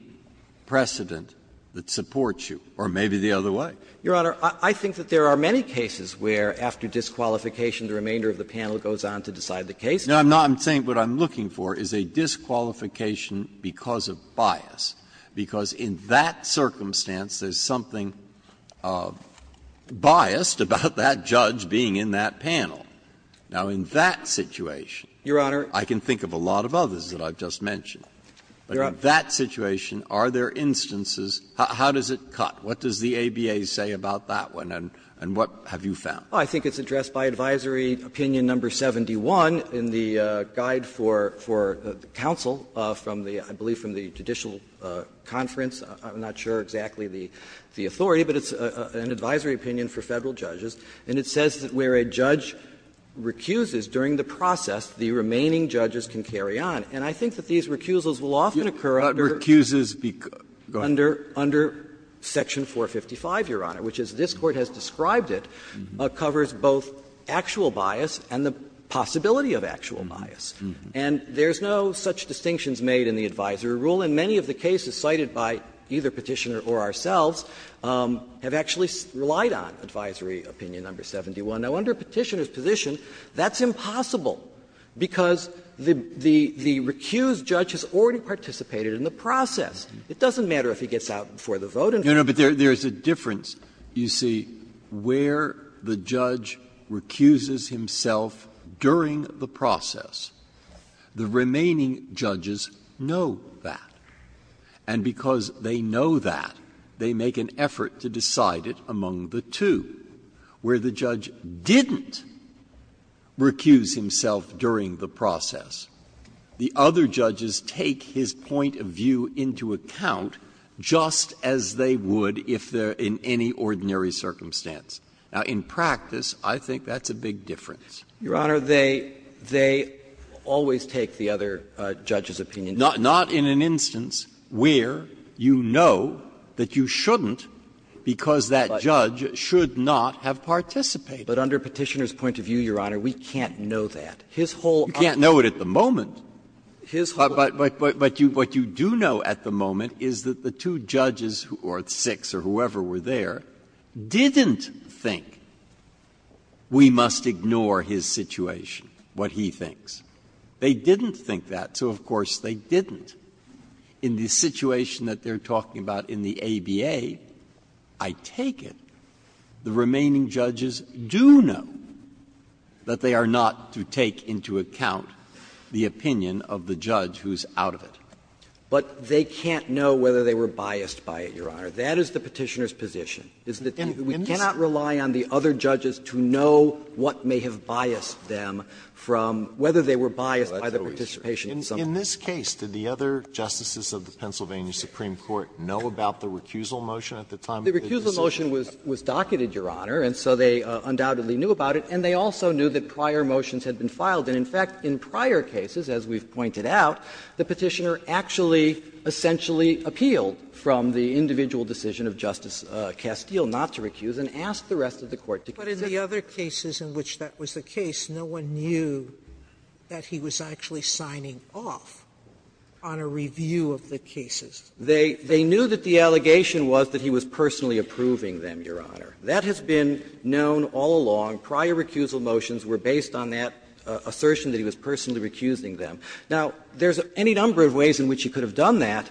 precedent that supports you? Or maybe the other way. Kneedler Your Honor, I think that there are many cases where, after disqualification, the remainder of the panel goes on to decide the case. Breyer Because in that circumstance, there's something biased about that judge being in that panel. Now, in that situation, I can think of a lot of others that I've just mentioned. But in that situation, are there instances – how does it cut? What does the ABA say about that one? And what have you found? Kneedler I think it's addressed by Advisory Opinion No. 71 in the guide for the counsel from the – I believe from the judicial conference. I'm not sure exactly the authority, but it's an advisory opinion for Federal judges. And it says that where a judge recuses during the process, the remaining judges can carry on. And I think that these recusals will often occur under under Section 455, Your Honor, which, as this Court has described it, covers both actual bias and the possibility of actual bias. And there's no such distinctions made in the advisory rule. And many of the cases cited by either Petitioner or ourselves have actually relied on Advisory Opinion No. 71. Now, under Petitioner's position, that's impossible, because the recused judge has already participated in the process. It doesn't matter if he gets out before the vote in Federal court. Breyer No, no, but there's a difference, you see, where the judge recuses himself during the process, the remaining judges know that. And because they know that, they make an effort to decide it among the two, where the judge didn't recuse himself during the process. The other judges take his point of view into account just as they would if they're in any ordinary circumstance. Now, in practice, I think that's a big difference. Breyer Your Honor, they always take the other judge's opinion. Breyer Not in an instance where you know that you shouldn't, because that judge should not have participated. Breyer But under Petitioner's point of view, Your Honor, we can't know that. His whole argument. Breyer You can't know it at the moment, but what you do know at the moment is that the two judges think we must ignore his situation, what he thinks. They didn't think that, so, of course, they didn't. In the situation that they're talking about in the ABA, I take it the remaining judges do know that they are not to take into account the opinion of the judge who's out of it. Breyer But they can't know whether they were biased by it, Your Honor. That is the Petitioner's position, is that we cannot rely on the judge's opinion and the other judges to know what may have biased them from whether they were biased by the participation of someone. Alito In this case, did the other justices of the Pennsylvania Supreme Court know about the recusal motion at the time of the decision? Breyer The recusal motion was docketed, Your Honor, and so they undoubtedly knew about it, and they also knew that prior motions had been filed. And, in fact, in prior cases, as we've pointed out, the Petitioner actually essentially appealed from the individual decision of Justice Castile not to recuse and asked the rest of the court to keep it. Sotomayor But in the other cases in which that was the case, no one knew that he was actually signing off on a review of the cases. Breyer They knew that the allegation was that he was personally approving them, Your Honor. That has been known all along. Prior recusal motions were based on that assertion that he was personally recusing them. Now, there's any number of ways in which he could have done that.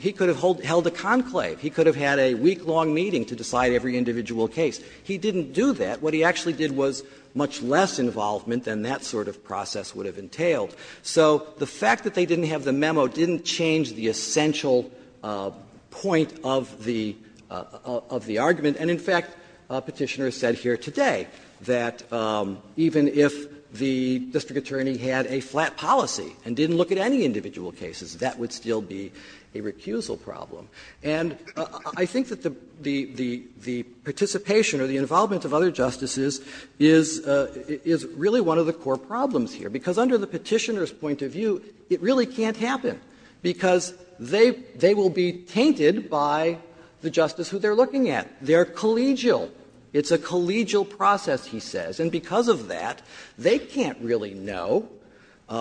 He could have held a conclave. He could have had a week-long meeting to decide every individual case. He didn't do that. What he actually did was much less involvement than that sort of process would have entailed. So the fact that they didn't have the memo didn't change the essential point of the argument. And, in fact, Petitioner has said here today that even if the district attorney had a flat policy and didn't look at any individual cases, that would still be a recusal problem. And I think that the participation or the involvement of other justices is really one of the core problems here, because under the Petitioner's point of view, it really can't happen, because they will be tainted by the justice who they are looking at. They are collegial. It's a collegial process, he says, and because of that, they can't really know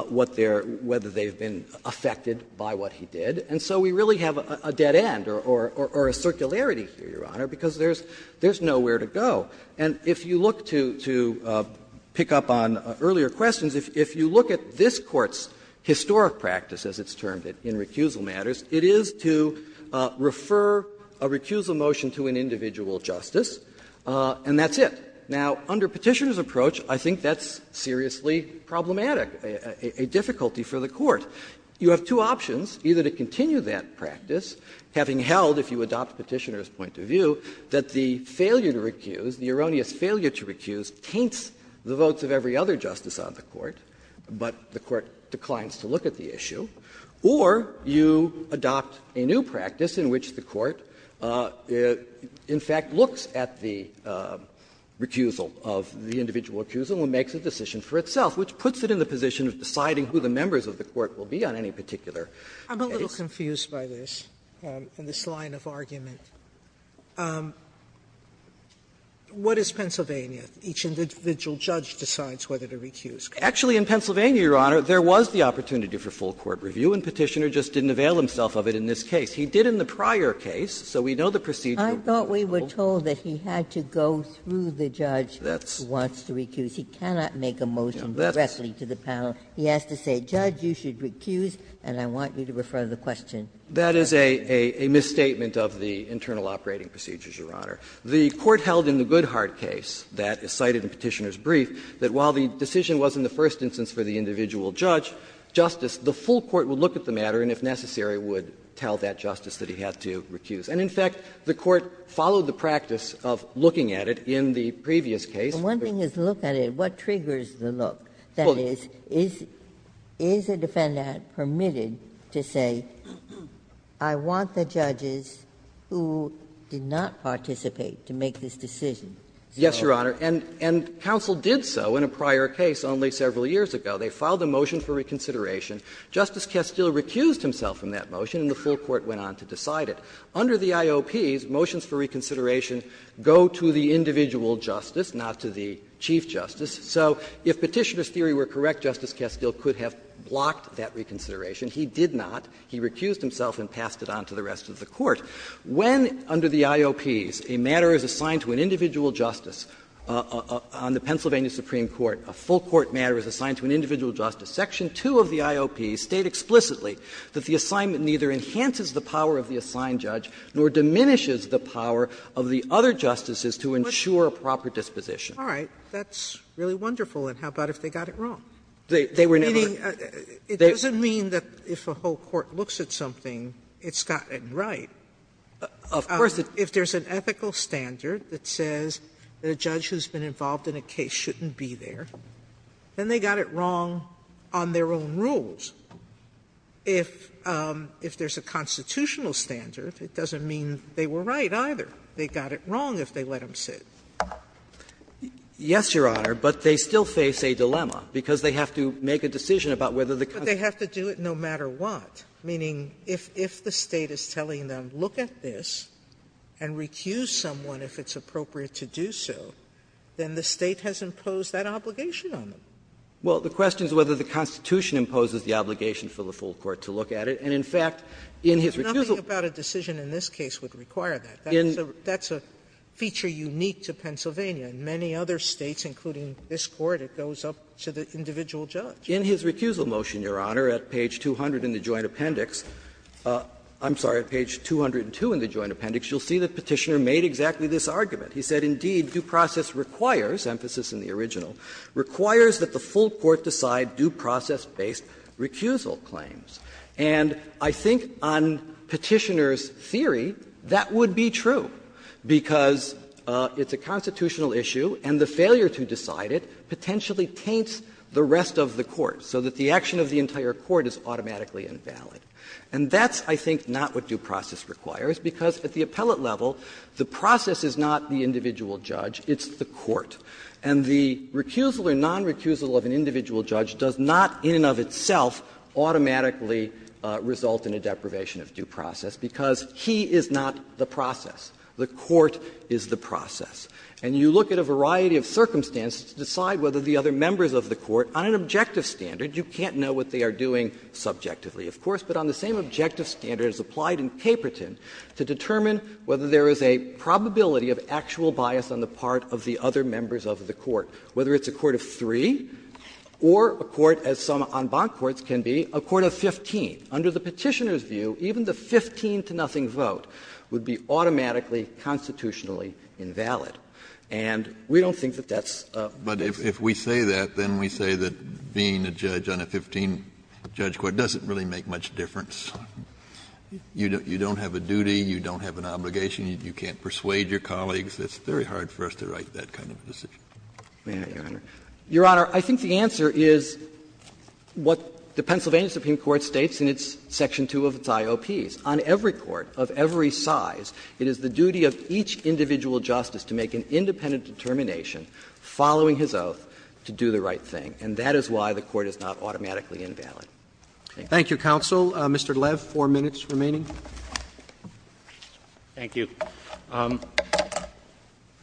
what they're – whether they've been affected by what he did. And so we really have a dead end or a circularity here, Your Honor, because there's nowhere to go. And if you look to pick up on earlier questions, if you look at this Court's historic practice, as it's termed it, in recusal matters, it is to refer a recusal motion to an individual justice, and that's it. Now, under Petitioner's approach, I think that's seriously problematic, a difficulty for the Court. You have two options, either to continue that practice, having held, if you adopt Petitioner's point of view, that the failure to recuse, the erroneous failure to recuse, taints the votes of every other justice on the Court, but the Court declines to look at the issue, or you adopt a new practice in which the Court, in fact, looks at the recusal of the individual recusal and makes a decision for itself, which will be on any particular case. Sotomayor, I'm a little confused by this, and this line of argument. What is Pennsylvania? Each individual judge decides whether to recuse. Actually, in Pennsylvania, Your Honor, there was the opportunity for full court review, and Petitioner just didn't avail himself of it in this case. He did in the prior case, so we know the procedure. I thought we were told that he had to go through the judge who wants to recuse. He cannot make a motion directly to the panel. He has to say, judge, you should recuse, and I want you to refer the question. That is a misstatement of the internal operating procedures, Your Honor. The Court held in the Goodhart case that is cited in Petitioner's brief that while the decision was in the first instance for the individual judge, justice, the full court would look at the matter and, if necessary, would tell that justice that he had to recuse. And, in fact, the Court followed the practice of looking at it in the previous case. Ginsburg. And one thing is to look at it, what triggers the look? That is, is a defendant permitted to say, I want the judges who did not participate to make this decision? Yes, Your Honor, and counsel did so in a prior case only several years ago. They filed a motion for reconsideration. Justice Kestel recused himself from that motion, and the full court went on to decide it. Under the IOPs, motions for reconsideration go to the individual justice, not to the chief justice. So if Petitioner's theory were correct, Justice Kestel could have blocked that reconsideration. He did not. He recused himself and passed it on to the rest of the Court. When under the IOPs a matter is assigned to an individual justice on the Pennsylvania Supreme Court, a full court matter is assigned to an individual justice, section 2 of the IOPs state explicitly that the assignment neither enhances the power of the That's really wonderful, and how about if they got it wrong? Meaning, it doesn't mean that if a whole court looks at something, it's gotten right. If there's an ethical standard that says that a judge who's been involved in a case shouldn't be there, then they got it wrong on their own rules. If there's a constitutional standard, it doesn't mean they were right either. They got it wrong if they let him sit. Yes, Your Honor, but they still face a dilemma, because they have to make a decision about whether the Constitution. Sotomayor, but they have to do it no matter what, meaning if the State is telling them, look at this and recuse someone if it's appropriate to do so, then the State has imposed that obligation on them. Well, the question is whether the Constitution imposes the obligation for the full court to look at it. And, in fact, in his recusal Well, nothing about a decision in this case would require that. That's a feature unique to Pennsylvania. In many other States, including this Court, it goes up to the individual judge. In his recusal motion, Your Honor, at page 200 in the Joint Appendix, I'm sorry, at page 202 in the Joint Appendix, you'll see that Petitioner made exactly this argument. He said, indeed, due process requires, emphasis in the original, requires that the full court decide due process-based recusal claims. And I think on Petitioner's theory, that would be true, because it's a constitutional issue and the failure to decide it potentially taints the rest of the court, so that the action of the entire court is automatically invalid. And that's, I think, not what due process requires, because at the appellate level, the process is not the individual judge, it's the court. And the recusal or nonrecusal of an individual judge does not, in and of itself, automatically result in a deprivation of due process, because he is not the process. The court is the process. And you look at a variety of circumstances to decide whether the other members of the court, on an objective standard, you can't know what they are doing subjectively, of course, but on the same objective standard is applied in Caperton to determine whether there is a probability of actual bias on the part of the other members of the court, whether it's a court of three or a court, as some en banc courts can be, a court of 15. Under the Petitioner's view, even the 15-to-nothing vote would be automatically constitutionally invalid. And we don't think that that's a good thing. Kennedy, but if we say that, then we say that being a judge on a 15-judge court doesn't really make much difference. You don't have a duty, you don't have an obligation, you can't persuade your colleagues. It's very hard for us to write that kind of decision. May I, Your Honor? Your Honor, I think the answer is what the Pennsylvania Supreme Court states in its section 2 of its IOPs. On every court of every size, it is the duty of each individual justice to make an independent determination, following his oath, to do the right thing. And that is why the court is not automatically invalid. Thank you. Thank you, counsel. Mr. Lev, four minutes remaining. Thank you.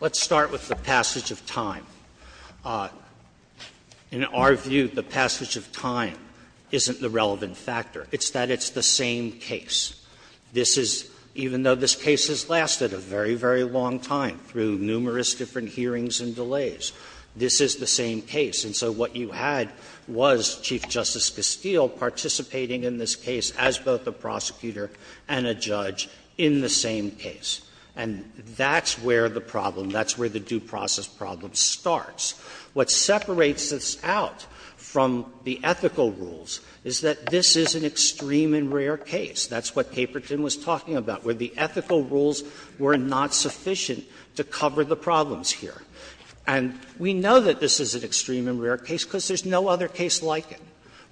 Let's start with the passage of time. In our view, the passage of time isn't the relevant factor. It's that it's the same case. This is, even though this case has lasted a very, very long time, through numerous different hearings and delays, this is the same case. And so what you had was Chief Justice Steele participating in this case as both a prosecutor and a judge in the same case. And that's where the problem, that's where the due process problem starts. What separates this out from the ethical rules is that this is an extreme and rare case. That's what Paperton was talking about, where the ethical rules were not sufficient to cover the problems here. And we know that this is an extreme and rare case because there's no other case like it,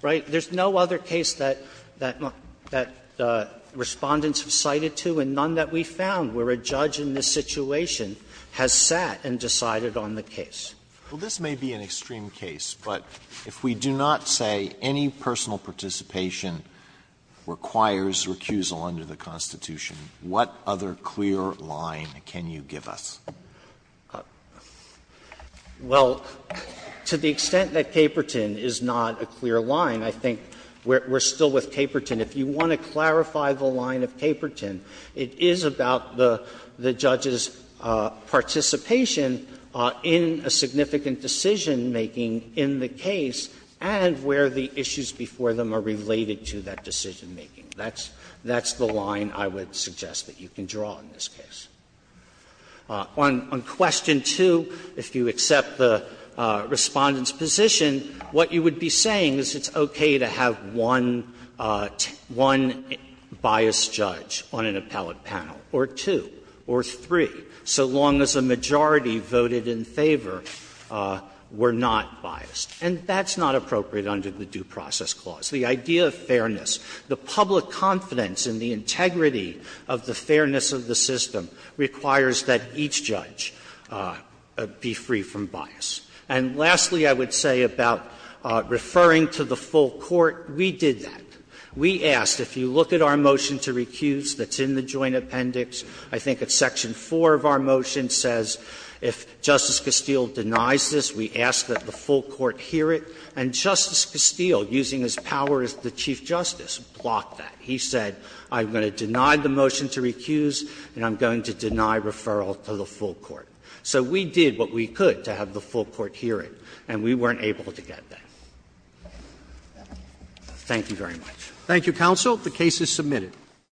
right? There's no other case that Respondents have cited to and none that we found where a judge in this situation has sat and decided on the case. Alitoso, this may be an extreme case, but if we do not say any personal participation requires recusal under the Constitution, what other clear line can you give us? Well, to the extent that Paperton is not a clear line, I think we're still with Paperton. If you want to clarify the line of Paperton, it is about the judge's participation in a significant decision-making in the case and where the issues before them are related to that decision-making. That's the line I would suggest that you can draw in this case. On question 2, if you accept the Respondent's position, what you would be saying is it's okay to have one biased judge on an appellate panel, or two, or three, so long as a majority voted in favor were not biased. And that's not appropriate under the Due Process Clause. The idea of fairness, the public confidence in the integrity of the fairness of the system requires that each judge be free from bias. And lastly, I would say about referring to the full court, we did that. We asked, if you look at our motion to recuse that's in the Joint Appendix, I think it's section 4 of our motion, says if Justice Castile denies this, we ask that the full court hear it. And Justice Castile, using his power as the Chief Justice, blocked that. He said, I'm going to deny the motion to recuse and I'm going to deny referral to the full court. So we did what we could to have the full court hear it, and we weren't able to get that. Roberts.